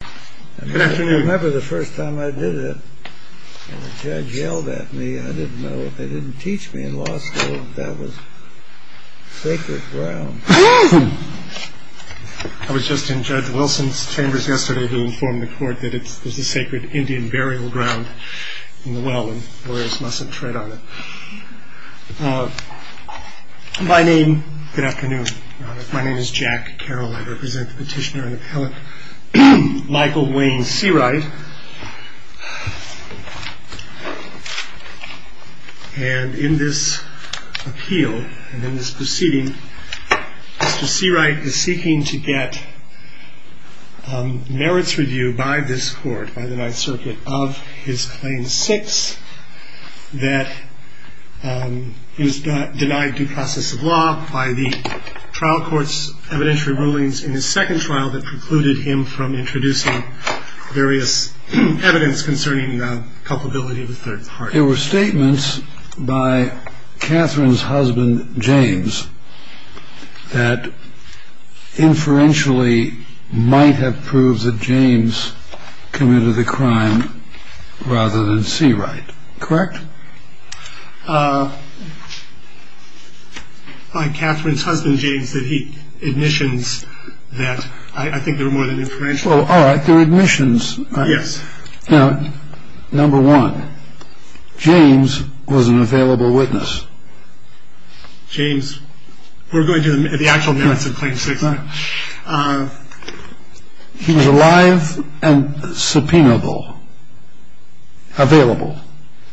I remember the first time I did it, and the judge yelled at me. I didn't know. They didn't teach me in law school that that was sacred ground. I was just in Judge Wilson's chambers yesterday to inform the court that it was a sacred Indian burial ground in the well and warriors mustn't tread on it. My name. Good afternoon. My name is Jack Carroll. I represent the petitioner and appellate Michael Wayne Seawright. And in this appeal and in this proceeding, Mr. Seawright is seeking to get. Merits review by this court by the Ninth Circuit of his claim six that he was denied due process of law by the trial courts evidentiary rulings in his second trial that precluded him from introducing various evidence concerning the culpability of the third party. There were statements by Catherine's husband, James, that inferentially might have proved that James committed the crime rather than see right. Correct. By Catherine's husband, James, that he admissions that. All right. There are admissions. Yes. Now, number one, James was an available witness. James, we're going to the actual merits of claim six. He was alive and subpoenable. Available.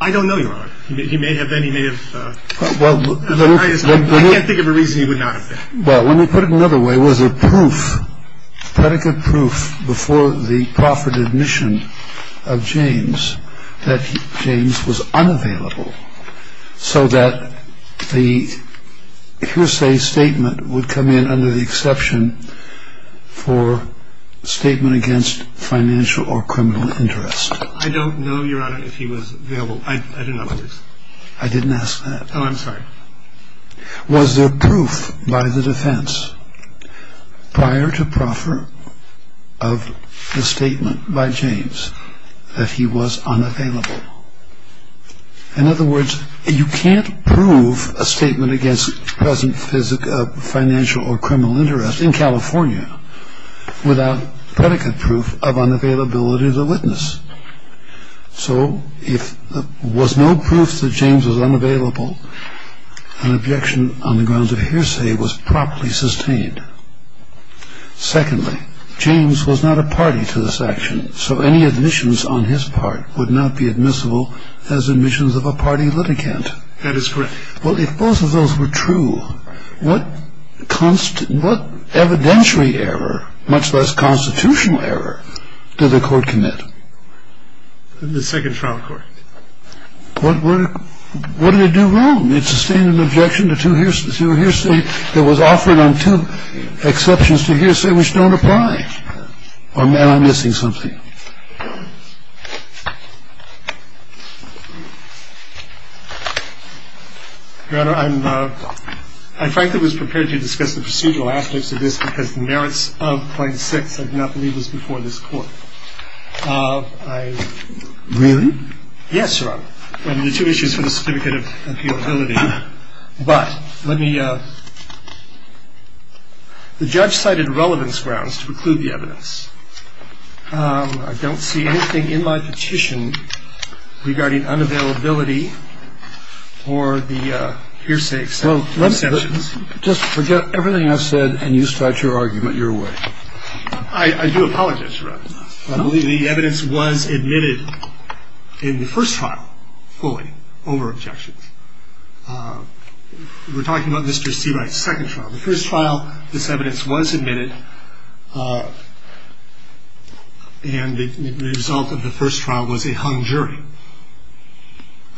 I don't know. He may have been. He may have. Well, I can't think of a reason he would not. Well, let me put it another way. Was there proof, predicate proof before the proffered admission of James that James was unavailable so that the hearsay statement would come in under the exception for statement against financial or criminal interest? I don't know, Your Honor, if he was available. I don't know. I didn't ask that. Oh, I'm sorry. Was there proof by the defense prior to proffer of the statement by James that he was unavailable? In other words, you can't prove a statement against present physical financial or criminal interest in California without predicate proof of unavailability of the witness. So if there was no proof that James was unavailable, an objection on the grounds of hearsay was properly sustained. Secondly, James was not a party to this action. So any admissions on his part would not be admissible as admissions of a party litigant. That is correct. Well, if both of those were true, what evidentiary error, much less constitutional error, did the court commit? In the second trial court. What did it do wrong? It sustained an objection to two hearsay that was offered on two exceptions to hearsay which don't apply. I'm missing something. Your Honor, I frankly was prepared to discuss the procedural aspects of this because the merits of point six I do not believe was before this court. Really? Yes, Your Honor. There are two issues for the certificate of appealability. But let me, the judge cited relevance grounds to preclude the evidence. I don't see anything in my petition regarding unavailability or the hearsay exceptions. Just forget everything I've said and you start your argument your way. I do apologize, Your Honor. I believe the evidence was admitted in the first trial fully over objections. We're talking about Mr. Seawright's second trial. The first trial, this evidence was admitted and the result of the first trial was a hung jury.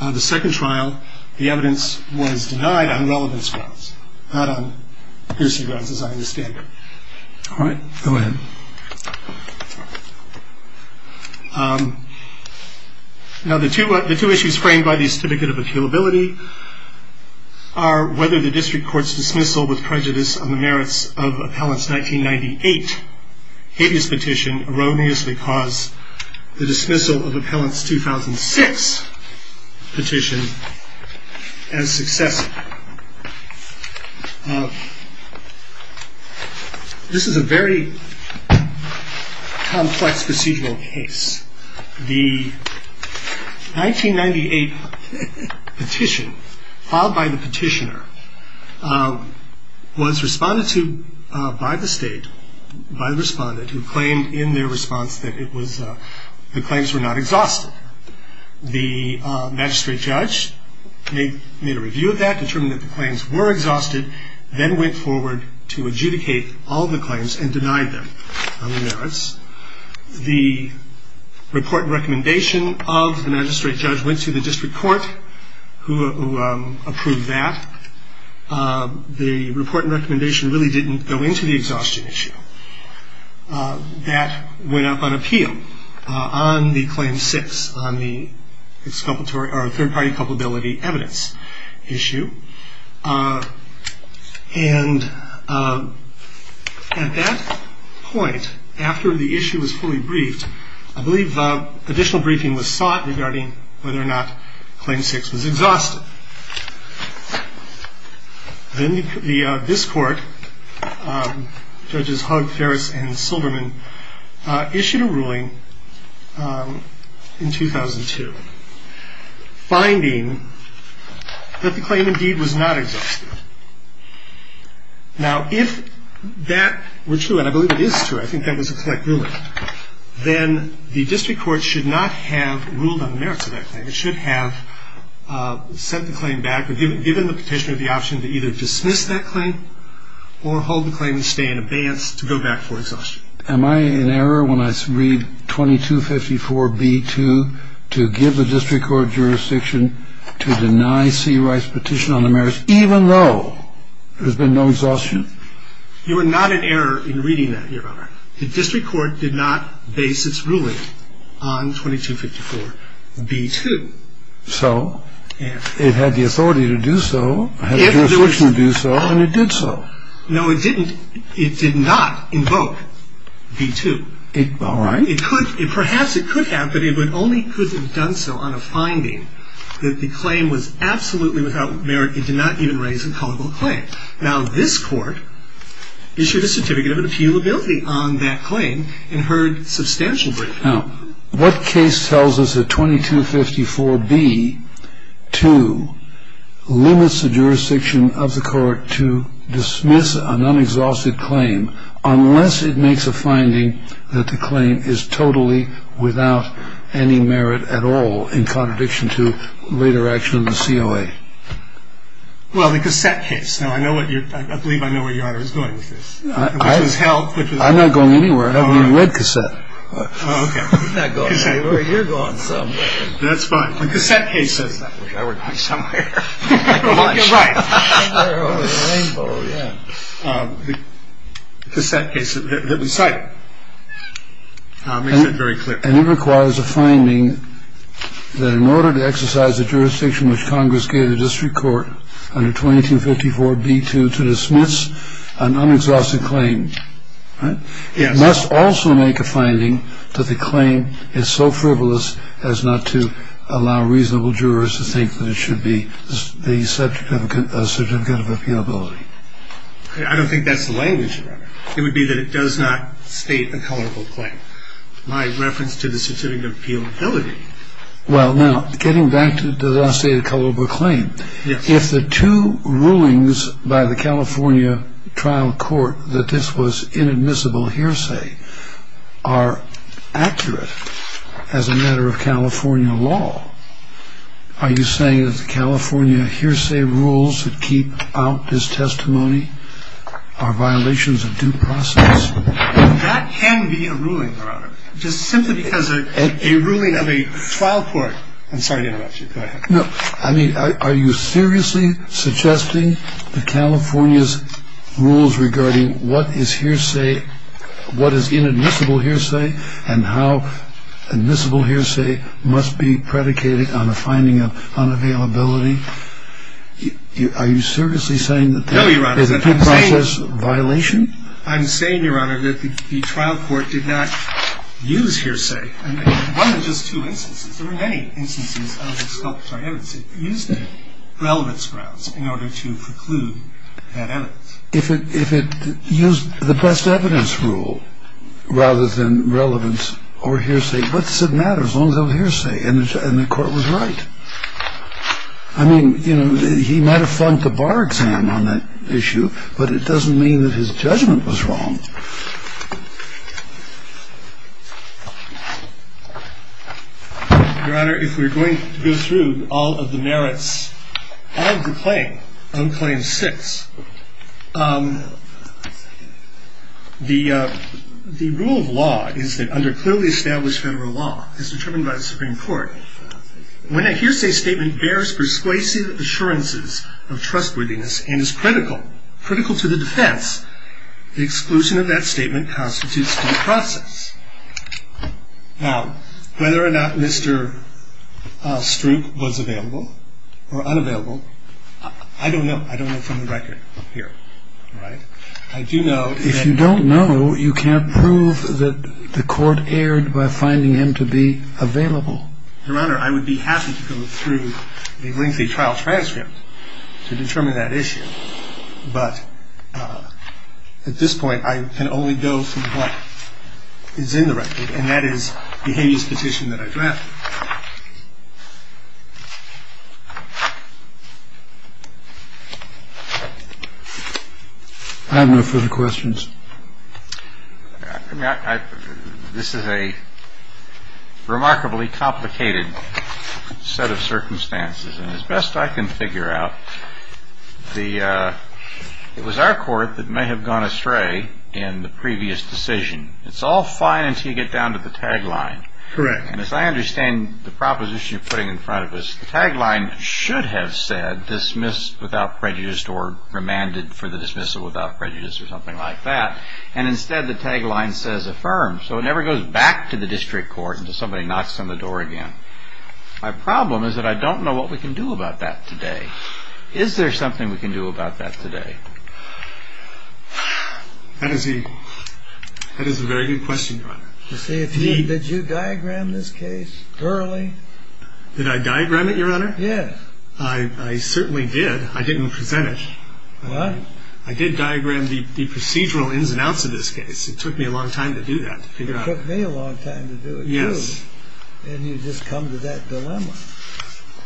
On the second trial, the evidence was denied on relevance grounds, not on hearsay grounds as I understand it. All right, go ahead. Now the two issues framed by the certificate of appealability are whether the district court's dismissal with prejudice on the merits of appellant's 1998 habeas petition erroneously caused the dismissal of appellant's 2006 petition as successive. This is a very complex procedural case. The 1998 petition filed by the petitioner was responded to by the state, by the respondent who claimed in their response that the claims were not exhausted. The magistrate judge made a review of that, determined that the claims were exhausted, then went forward to adjudicate all the claims and denied them on the merits. The report and recommendation of the magistrate judge went to the district court who approved that. The report and recommendation really didn't go into the exhaustion issue. That went up on appeal on the claim six on the third party culpability evidence issue. And at that point, after the issue was fully briefed, I believe additional briefing was sought regarding whether or not claim six was exhausted. Then this court, judges Hug, Ferris, and Silverman, issued a ruling in 2002, finding that the claim indeed was not exhausted. Now if that were true, and I believe it is true, I think that was a correct ruling, then the district court should not have ruled on the merits of that claim. It should have sent the claim back or given the petitioner the option to either dismiss that claim or hold the claim and stay in abeyance to go back for exhaustion. Am I in error when I read 2254b2 to give the district court jurisdiction to deny C. Wright's petition on the merits, even though there's been no exhaustion? You are not in error in reading that, Your Honor. The district court did not base its ruling on 2254b2. So it had the authority to do so, had the jurisdiction to do so, and it did so. No, it didn't. It did not invoke b2. All right. It could. Perhaps it could have, but it only could have done so on a finding that the claim was absolutely without merit. It did not even raise a culpable claim. Now, this court issued a certificate of appealability on that claim and heard substantial briefing. Now, what case tells us that 2254b2 limits the jurisdiction of the court to dismiss an unexhausted claim unless it makes a finding that the claim is totally without any merit at all in contradiction to later action in the COA? Well, the cassette case. Now, I believe I know where Your Honor is going with this, which is health. I'm not going anywhere. I haven't even read cassette. Oh, okay. You're not going anywhere. You're going somewhere. That's fine. The cassette case says that. I wish I were to be somewhere. You're right. Rainbow, yeah. The cassette case that we cited makes that very clear. And it requires a finding that in order to exercise the jurisdiction which Congress gave the district court under 2254b2 to dismiss an unexhausted claim. It must also make a finding that the claim is so frivolous as not to allow reasonable jurors to think that it should be the subject of a certificate of appealability. I don't think that's the language. It would be that it does not state a culpable claim. My reference to the certificate of appealability. Well, now, getting back to the dossier of culpable claim. Yes. If the two rulings by the California trial court that this was inadmissible hearsay are accurate as a matter of California law, are you saying that the California hearsay rules that keep out this testimony are violations of due process? That can be a ruling, Your Honor. Just simply because a ruling of a trial court. I'm sorry to interrupt you. Go ahead. No. I mean, are you seriously suggesting that California's rules regarding what is hearsay, what is inadmissible hearsay and how admissible hearsay must be predicated on a finding of unavailability? Are you seriously saying that that is a due process violation? I'm saying, Your Honor, that the trial court did not use hearsay. One of just two instances. There were many instances of the sculpture of evidence. It used the relevance grounds in order to preclude that evidence. If it used the best evidence rule rather than relevance or hearsay, what does it matter as long as it was hearsay? And the court was right. I mean, you know, he might have flunked the bar exam on that issue, but it doesn't mean that his judgment was wrong. Your Honor, if we're going to go through all of the merits of the claim on claim six, the rule of law is that under clearly established federal law as determined by the Supreme Court, when a hearsay statement bears persuasive assurances of trustworthiness and is critical, critical to the defense, the exclusion of that statement constitutes due process. Now, whether or not Mr. Stroop was available or unavailable, I don't know. I don't know from the record up here. I do know. If you don't know, you can't prove that the court erred by finding him to be available. Your Honor, I would be happy to go through a lengthy trial transcript to determine that issue. But at this point, I can only go through what is in the record, and that is the habeas petition that I've left. I have no further questions. This is a remarkably complicated set of circumstances. And as best I can figure out, it was our court that may have gone astray in the previous decision. It's all fine until you get down to the tagline. Correct. And as I understand the proposition you're putting in front of us, the tagline should have said dismissed without prejudice or remanded for the dismissal without prejudice or something like that. And instead, the tagline says affirmed. So it never goes back to the district court until somebody knocks on the door again. My problem is that I don't know what we can do about that today. Is there something we can do about that today? That is a very good question, Your Honor. Did you diagram this case thoroughly? Did I diagram it, Your Honor? Yes. I certainly did. I didn't present it. I did diagram the procedural ins and outs of this case. It took me a long time to do that. It took me a long time to do it, too. And you just come to that dilemma.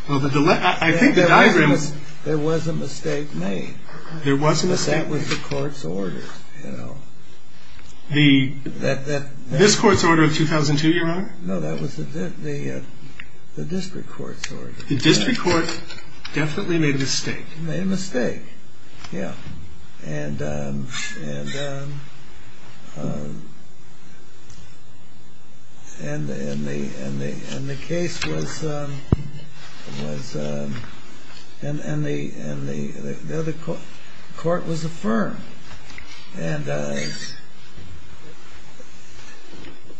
Well, I think the diagram... There was a mistake made. There was a mistake. Because that was the court's order, you know. This court's order of 2002, Your Honor? No, that was the district court's order. The district court definitely made a mistake. Made a mistake, yeah. And... And the case was... And the court was affirmed. And...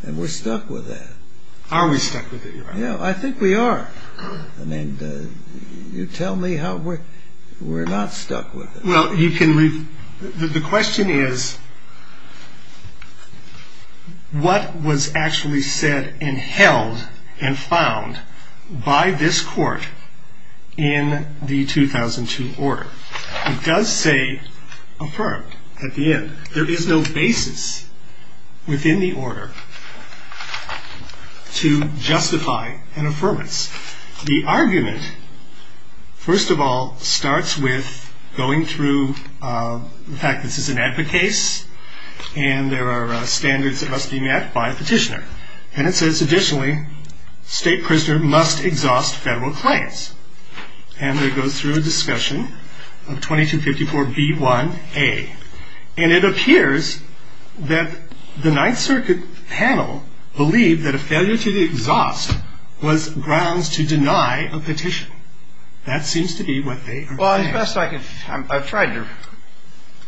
And we're stuck with that. Are we stuck with it, Your Honor? Yeah, I think we are. I mean, you tell me how we're not stuck with it. Well, you can... The question is... What was actually said and held and found by this court in the 2002 order? It does say affirmed at the end. There is no basis within the order to justify an affirmance. The argument, first of all, starts with going through... In fact, this is an advocate case, and there are standards that must be met by a petitioner. And it says, additionally, state prisoner must exhaust federal claims. And it goes through a discussion of 2254b1a. And it appears that the Ninth Circuit panel believed that a failure to exhaust was grounds to deny a petition. That seems to be what they are saying. Well, as best I can... I've tried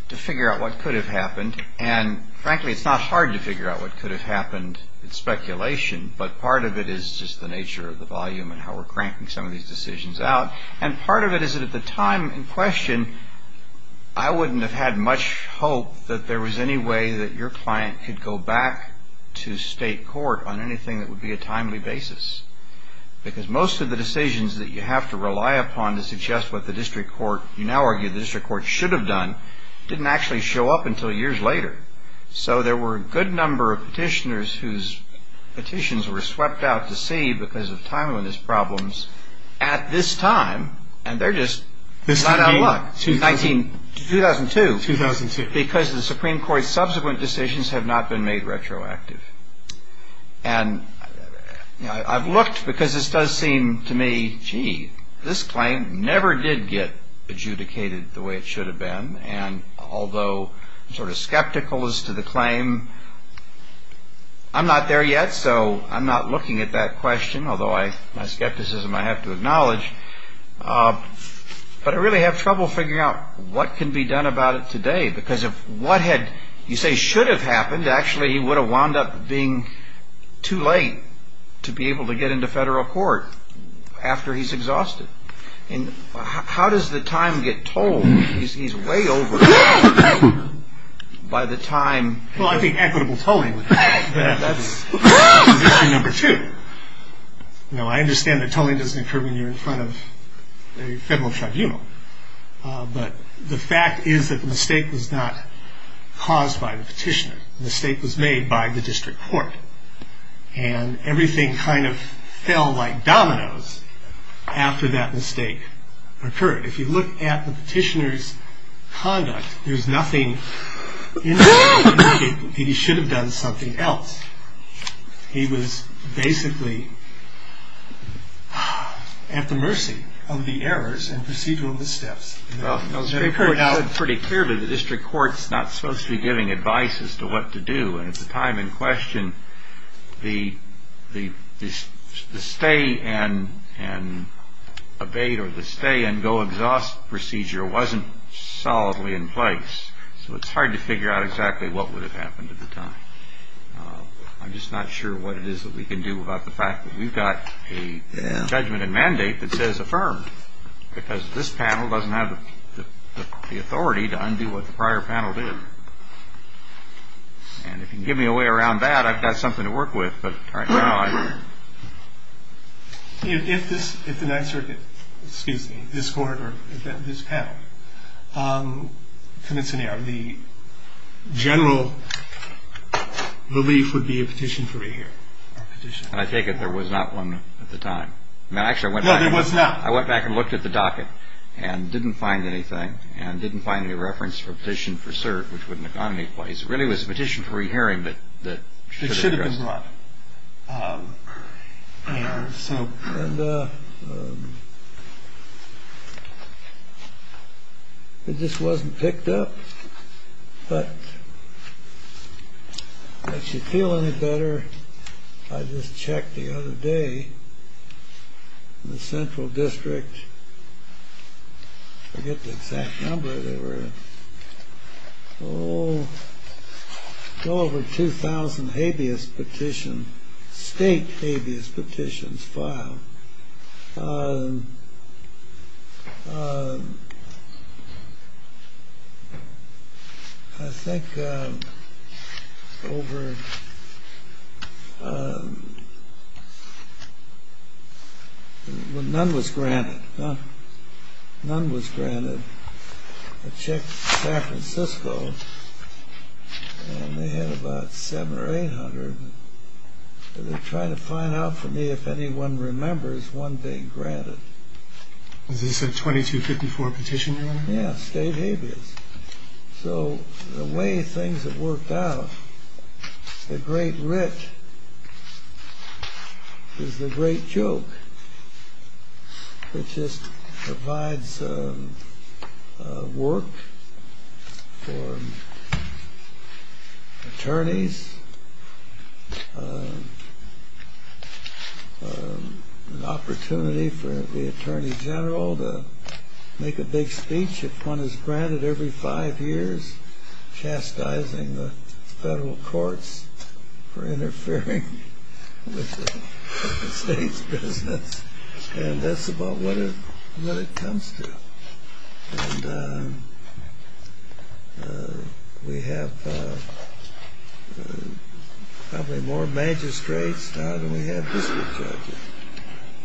to figure out what could have happened. And, frankly, it's not hard to figure out what could have happened. It's speculation. But part of it is just the nature of the volume and how we're cranking some of these decisions out. And part of it is that at the time in question, I wouldn't have had much hope that there was any way that your client could go back to state court on anything that would be a timely basis. Because most of the decisions that you have to rely upon to suggest what the district court... you now argue the district court should have done didn't actually show up until years later. So there were a good number of petitioners whose petitions were swept out to sea because of timeliness problems at this time. And they're just... This is... This is 2002. 2002. 2002. Because the Supreme Court's subsequent decisions have not been made retroactive. And I've looked because this does seem to me, gee, this claim never did get adjudicated the way it should have been. And although I'm sort of skeptical as to the claim, I'm not there yet, so I'm not looking at that question, although my skepticism I have to acknowledge. But I really have trouble figuring out what can be done about it today. Because if what had, you say, should have happened, actually he would have wound up being too late to be able to get into federal court after he's exhausted. And how does the time get told? He's way over by the time... Well, I think equitable tolling. That's issue number two. Now, I understand that tolling doesn't occur when you're in front of a federal tribunal. But the fact is that the mistake was not caused by the petitioner. The mistake was made by the district court. And everything kind of fell like dominoes after that mistake occurred. If you look at the petitioner's conduct, there's nothing in it that he should have done something else. He was basically at the mercy of the errors and procedural missteps. Now, pretty clearly the district court's not supposed to be giving advice as to what to do. And at the time in question, the stay and abate or the stay and go exhaust procedure wasn't solidly in place. So it's hard to figure out exactly what would have happened at the time. I'm just not sure what it is that we can do about the fact that we've got a judgment and mandate that says affirmed because this panel doesn't have the authority to undo what the prior panel did. And if you can give me a way around that, I've got something to work with. But right now I don't. If the Ninth Circuit, excuse me, this court or this panel commits an error, the general relief would be a petition to re-hear. I take it there was not one at the time. No, there was not. I went back and looked at the docket and didn't find anything and didn't find any reference for a petition for cert, which wouldn't have gone any place. It really was a petition for re-hearing that should have been brought. It should have been brought. And it just wasn't picked up. But if you feel any better, I just checked the other day. In the Central District, I forget the exact number, there were over 2,000 habeas petitions, state habeas petitions filed. I think over, well, none was granted. None was granted. I checked San Francisco and they had about 700 or 800. They're trying to find out for me if anyone remembers one being granted. Was this a 2254 petition? Yes, state habeas. So the way things have worked out, the great writ is the great joke. It just provides work for attorneys, an opportunity for the Attorney General to make a big speech if one is granted every five years, chastising the federal courts for interfering with the state's business. And that's about what it comes to. And we have probably more magistrates now than we have district judges.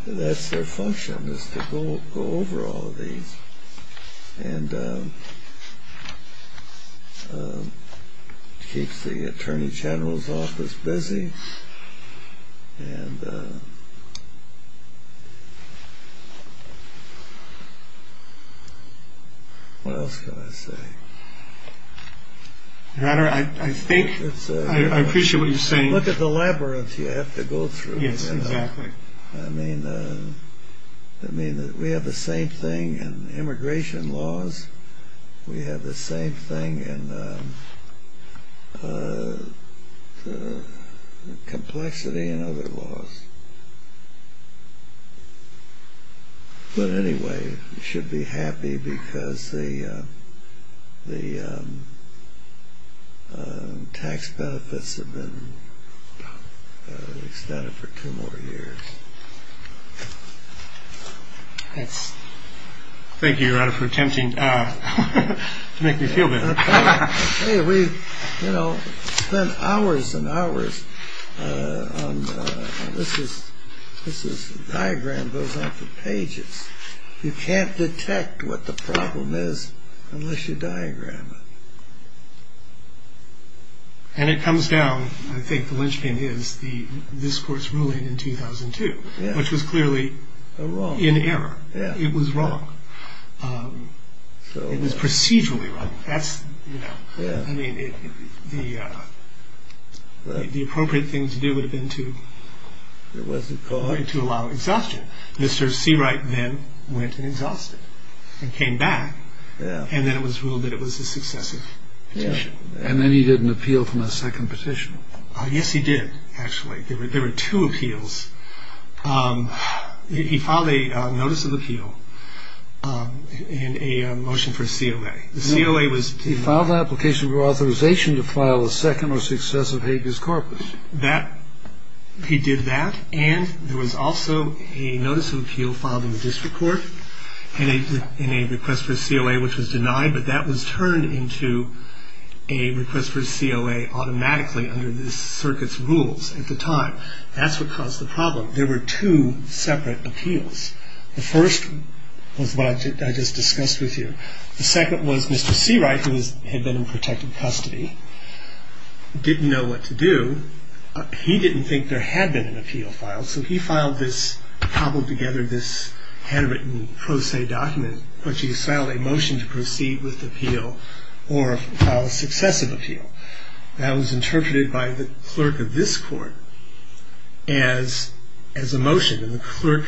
That's their function is to go over all of these. And it keeps the Attorney General's office busy. What else can I say? I appreciate what you're saying. Look at the labyrinth you have to go through. Yes, exactly. I mean, we have the same thing in immigration laws. We have the same thing in complexity and other laws. But anyway, you should be happy because the tax benefits have been extended for two more years. Thank you, Your Honor, for attempting to make me feel better. We've spent hours and hours on this. This diagram goes on for pages. You can't detect what the problem is unless you diagram it. And it comes down, I think the lynching is, this court's ruling in 2002, which was clearly in error. It was wrong. It was procedurally wrong. I mean, the appropriate thing to do would have been to allow exhaustion. Mr. Seawright then went and exhausted and came back. And then it was ruled that it was a successive petition. And then he did an appeal from a second petition. Yes, he did, actually. There were two appeals. He filed a notice of appeal in a motion for COA. He filed an application for authorization to file a second or successive habeas corpus. He did that. And there was also a notice of appeal filed in the district court in a request for COA, which was denied. But that was turned into a request for COA automatically under the circuit's rules at the time. That's what caused the problem. There were two separate appeals. The first was what I just discussed with you. The second was Mr. Seawright, who had been in protective custody, didn't know what to do. He didn't think there had been an appeal filed. So he filed this, cobbled together this handwritten pro se document, which he filed a motion to proceed with the appeal or file a successive appeal. That was interpreted by the clerk of this court as a motion. And the clerk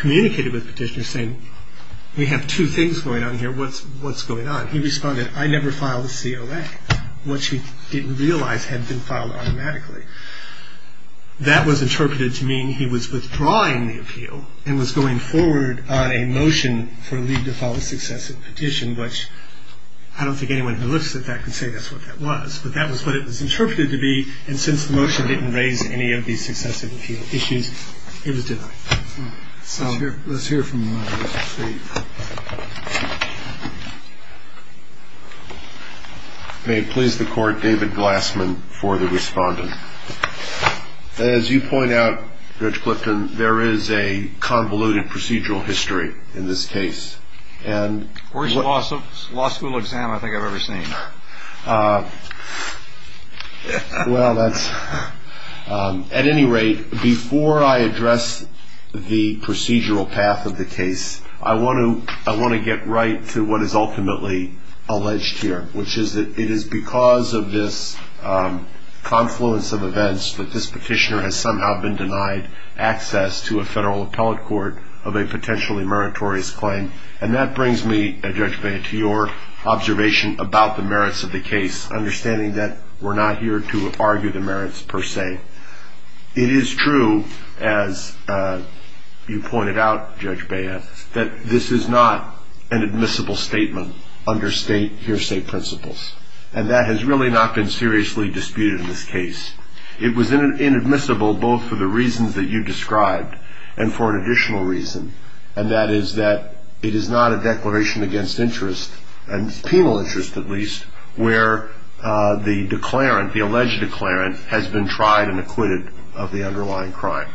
communicated with the petitioner saying, we have two things going on here. What's going on? He responded, I never filed a COA, which he didn't realize had been filed automatically. That was interpreted to mean he was withdrawing the appeal and was going forward on a motion for a leave to file a successive petition, which I don't think anyone who looks at that can say that's what that was. But that was what it was interpreted to be. And since the motion didn't raise any of these successive issues, it was denied. So let's hear from Mr. Seawright. May it please the court, David Glassman for the respondent. As you point out, Judge Clifton, there is a convoluted procedural history in this case. Worst law school exam I think I've ever seen. Well, that's at any rate, before I address the procedural path of the case, I want to get right to what is ultimately alleged here, which is that it is because of this confluence of events that this petitioner has somehow been denied access to a federal appellate court of a potentially meritorious claim. And that brings me, Judge Bea, to your observation about the merits of the case, understanding that we're not here to argue the merits per se. It is true, as you pointed out, Judge Bea, that this is not an admissible statement under state hearsay principles. And that has really not been seriously disputed in this case. It was inadmissible both for the reasons that you described and for an additional reason, and that is that it is not a declaration against interest, and penal interest at least, where the declarant, the alleged declarant, has been tried and acquitted of the underlying crime.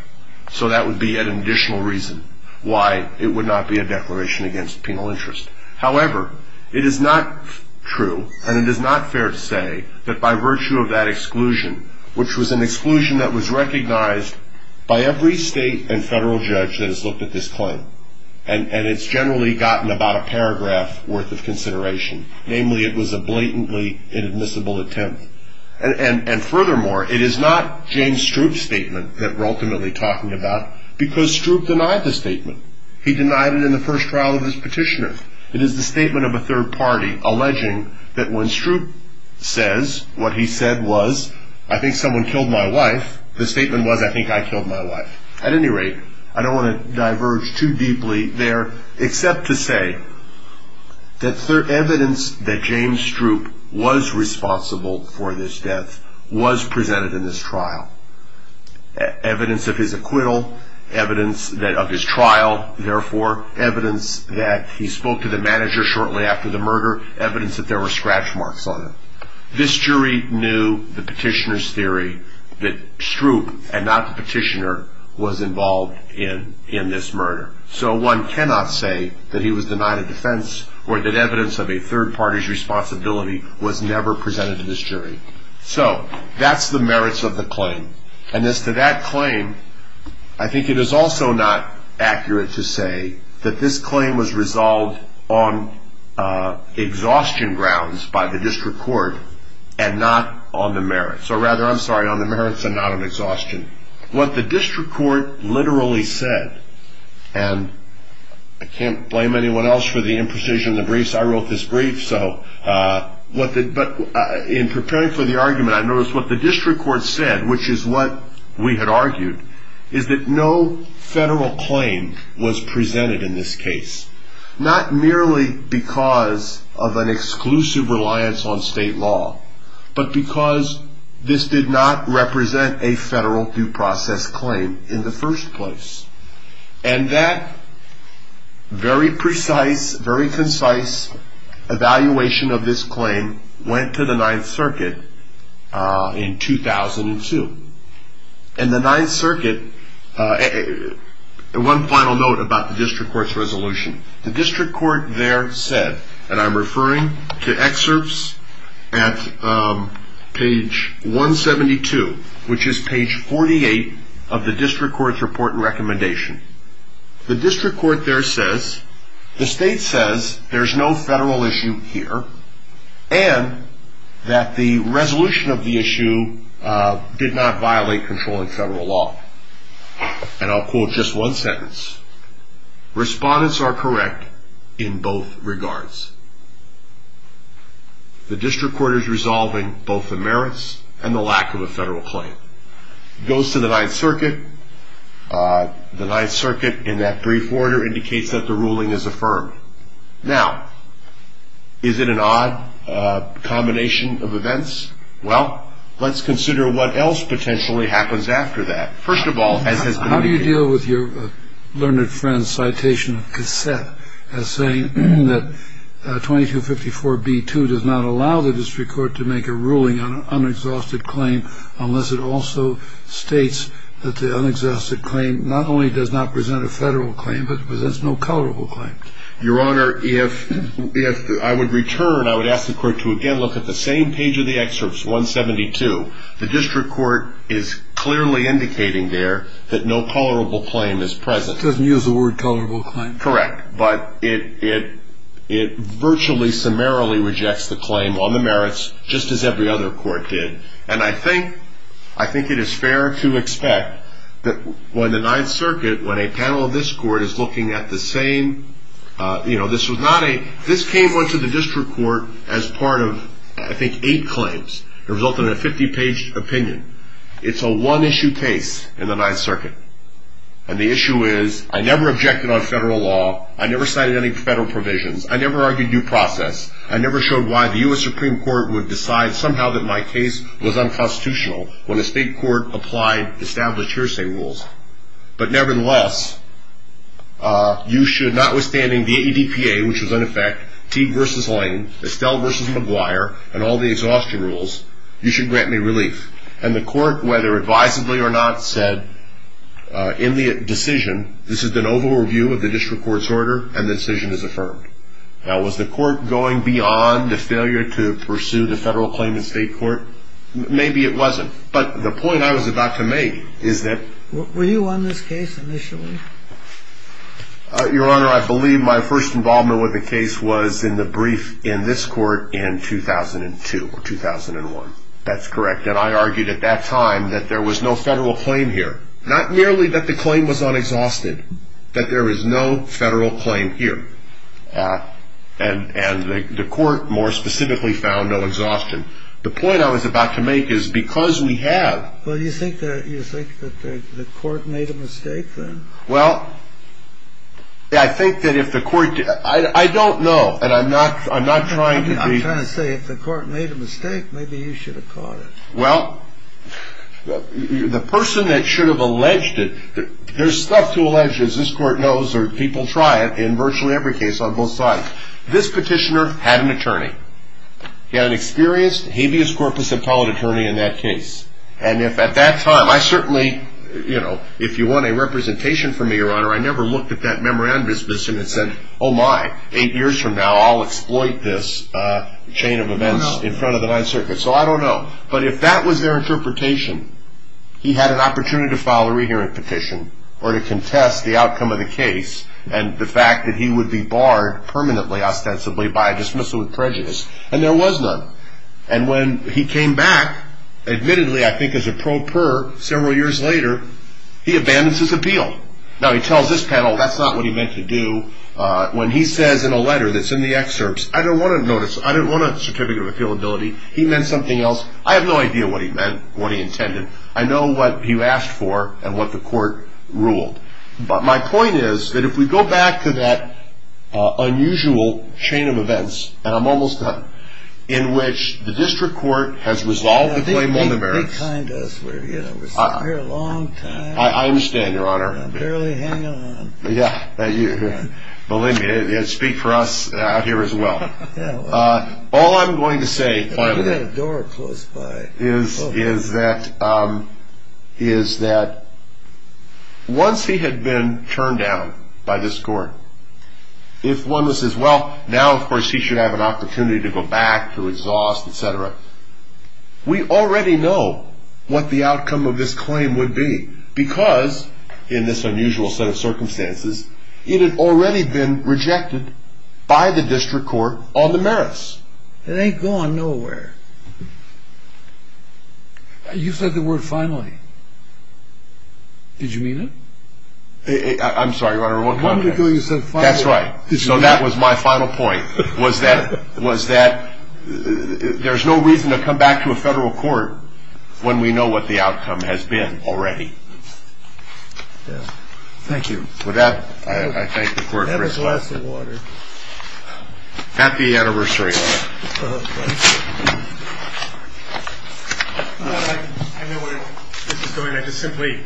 So that would be an additional reason why it would not be a declaration against penal interest. However, it is not true, and it is not fair to say that by virtue of that exclusion, which was an exclusion that was recognized by every state and federal judge that has looked at this claim, and it's generally gotten about a paragraph worth of consideration. Namely, it was a blatantly inadmissible attempt. And furthermore, it is not James Stroop's statement that we're ultimately talking about, because Stroop denied the statement. He denied it in the first trial of his petitioner. It is the statement of a third party alleging that when Stroop says what he said was, I think someone killed my wife, the statement was, I think I killed my wife. At any rate, I don't want to diverge too deeply there, except to say that evidence that James Stroop was responsible for this death was presented in this trial. Evidence of his acquittal, evidence of his trial, therefore, evidence that he spoke to the manager shortly after the murder, evidence that there were scratch marks on it. This jury knew the petitioner's theory that Stroop, and not the petitioner, was involved in this murder. So one cannot say that he was denied a defense, or that evidence of a third party's responsibility was never presented to this jury. So that's the merits of the claim. And as to that claim, I think it is also not accurate to say that this claim was resolved on exhaustion grounds by the district court, and not on the merits. Or rather, I'm sorry, on the merits and not on exhaustion. What the district court literally said, and I can't blame anyone else for the imprecision of the briefs. I wrote this brief, but in preparing for the argument, I noticed what the district court said, which is what we had argued, is that no federal claim was presented in this case. Not merely because of an exclusive reliance on state law, but because this did not represent a federal due process claim in the first place. And that very precise, very concise evaluation of this claim went to the Ninth Circuit in 2002. And the Ninth Circuit, one final note about the district court's resolution. The district court there said, and I'm referring to excerpts at page 172, which is page 48 of the district court's report and recommendation. The district court there says, the state says there's no federal issue here, and that the resolution of the issue did not violate controlling federal law. And I'll quote just one sentence. Respondents are correct in both regards. The district court is resolving both the merits and the lack of a federal claim. It goes to the Ninth Circuit. The Ninth Circuit, in that brief order, indicates that the ruling is affirmed. Now, is it an odd combination of events? Well, let's consider what else potentially happens after that. First of all, as has been indicated. I agree with your learned friend's citation cassette as saying that 2254B2 does not allow the district court to make a ruling on an unexhausted claim unless it also states that the unexhausted claim not only does not present a federal claim but presents no colorable claim. Your Honor, if I would return, I would ask the court to again look at the same page of the excerpts, 172. The district court is clearly indicating there that no colorable claim is present. It doesn't use the word colorable claim. Correct. But it virtually summarily rejects the claim on the merits just as every other court did. And I think it is fair to expect that when the Ninth Circuit, when a panel of this court is looking at the same, you know, this came onto the district court as part of, I think, eight claims. It resulted in a 50-page opinion. It's a one-issue case in the Ninth Circuit. And the issue is I never objected on federal law. I never cited any federal provisions. I never argued due process. I never showed why the U.S. Supreme Court would decide somehow that my case was unconstitutional when a state court applied established hearsay rules. But nevertheless, you should, notwithstanding the ADPA, which was in effect, Teague v. Lane, Estelle v. Maguire, and all the exhaustion rules, you should grant me relief. And the court, whether advisably or not, said in the decision, this is an overall review of the district court's order, and the decision is affirmed. Now, was the court going beyond the failure to pursue the federal claim in state court? Maybe it wasn't. But the point I was about to make is that- Were you on this case initially? Your Honor, I believe my first involvement with the case was in the brief in this court in 2002 or 2001. That's correct. And I argued at that time that there was no federal claim here, not merely that the claim was unexhausted, that there is no federal claim here. And the court more specifically found no exhaustion. The point I was about to make is because we have- Well, you think that the court made a mistake then? Well, I think that if the court- I don't know, and I'm not trying to be- I'm trying to say if the court made a mistake, maybe you should have caught it. Well, the person that should have alleged it- there's stuff to allege, as this court knows, or people try it in virtually every case on both sides. This petitioner had an attorney. He had an experienced habeas corpus appellate attorney in that case. And if at that time- I certainly- you know, if you want a representation from me, Your Honor, I never looked at that memorandum disposition and said, Oh my, eight years from now, I'll exploit this chain of events in front of the Ninth Circuit. So I don't know. But if that was their interpretation, he had an opportunity to file a re-hearing petition or to contest the outcome of the case and the fact that he would be barred permanently, ostensibly, by dismissal with prejudice. And there was none. And when he came back, admittedly, I think as a pro per, several years later, he abandons his appeal. Now, he tells this panel that's not what he meant to do. When he says in a letter that's in the excerpts, I don't want a notice. I don't want a certificate of appealability. He meant something else. I have no idea what he meant, what he intended. I know what he asked for and what the court ruled. But my point is that if we go back to that unusual chain of events, and I'm almost done, in which the district court has resolved the claim on the merits. Yeah, they kind us. We're sitting here a long time. I understand, Your Honor. I'm barely hanging on. Yeah. Believe me, they speak for us out here as well. Yeah, well. All I'm going to say, finally. You've got a door close by. Is that once he had been turned down by this court, if one was as well, now, of course, he should have an opportunity to go back to exhaust, et cetera. We already know what the outcome of this claim would be because, in this unusual set of circumstances, it had already been rejected by the district court on the merits. It ain't going nowhere. You said the word, finally. Did you mean it? I'm sorry, Your Honor. A moment ago, you said, finally. That's right. So that was my final point, was that there's no reason to come back to a federal court when we know what the outcome has been already. Yeah. Thank you. With that, I thank the court for its time. That was less than water. Happy anniversary, Your Honor. I know where this is going. I just simply.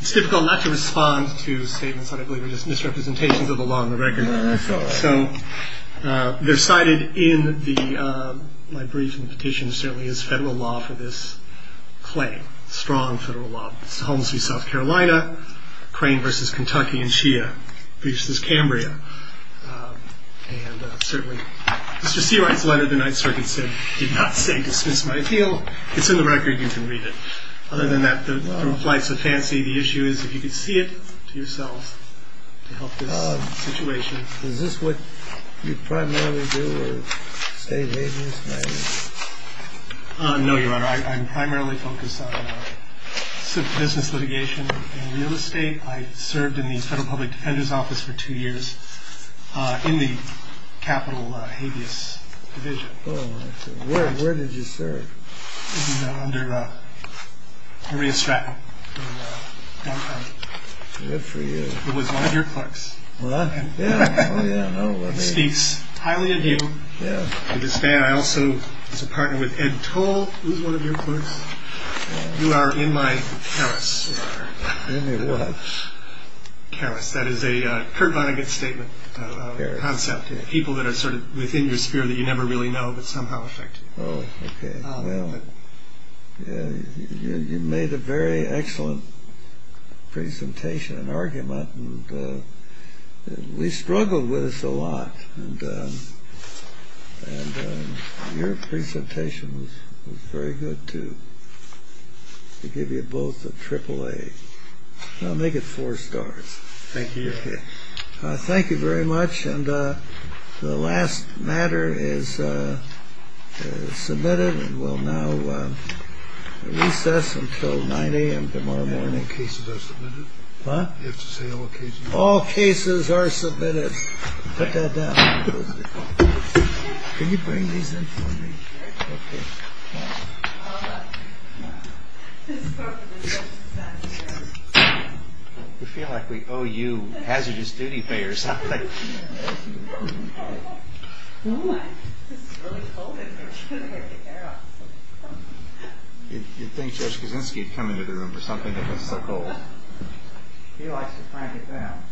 It's difficult not to respond to statements that I believe are just misrepresentations of the law and the record. That's all right. So they're cited in my brief and petition certainly as federal law for this claim, strong federal law. It's the Holmes v. South Carolina, Crane v. Kentucky, and Shia v. Cambria. And certainly Mr. Seawright's letter, the Ninth Circuit said, did not say dismiss my appeal. It's in the record. You can read it. Other than that, the flight's a fancy. The issue is if you could see it for yourselves to help this situation. Is this what you primarily do, or state agents? No, Your Honor. I'm primarily focused on business litigation and real estate. I served in the Federal Public Defender's Office for two years in the Capitol Habeas Division. Where did you serve? Under Maria Stratton. Good for you. Who was one of your clerks. Speaks highly of you. I also was a partner with Ed Toll, who was one of your clerks. You are in my chalice, Your Honor. In your what? Chalice. That is a Kurt Vonnegut statement, concept. People that are sort of within your sphere that you never really know, but somehow affect you. Oh, okay. Well, you made a very excellent presentation and argument. We struggled with this a lot. And your presentation was very good, too. To give you both a triple A. I'll make it four stars. Thank you, Your Honor. Thank you very much. And the last matter is submitted and will now recess until 9 a.m. tomorrow morning. All cases are submitted? Huh? You have to say all cases are submitted. All cases are submitted. Put that down. Can you bring these in for me? Sure. Okay. We feel like we owe you hazardous duty pay or something. Oh, my. This is really cold in here. I'm trying to get my hair out. You'd think Judge Kaczynski would come into the room for something that gets so cold. He likes to crank it down.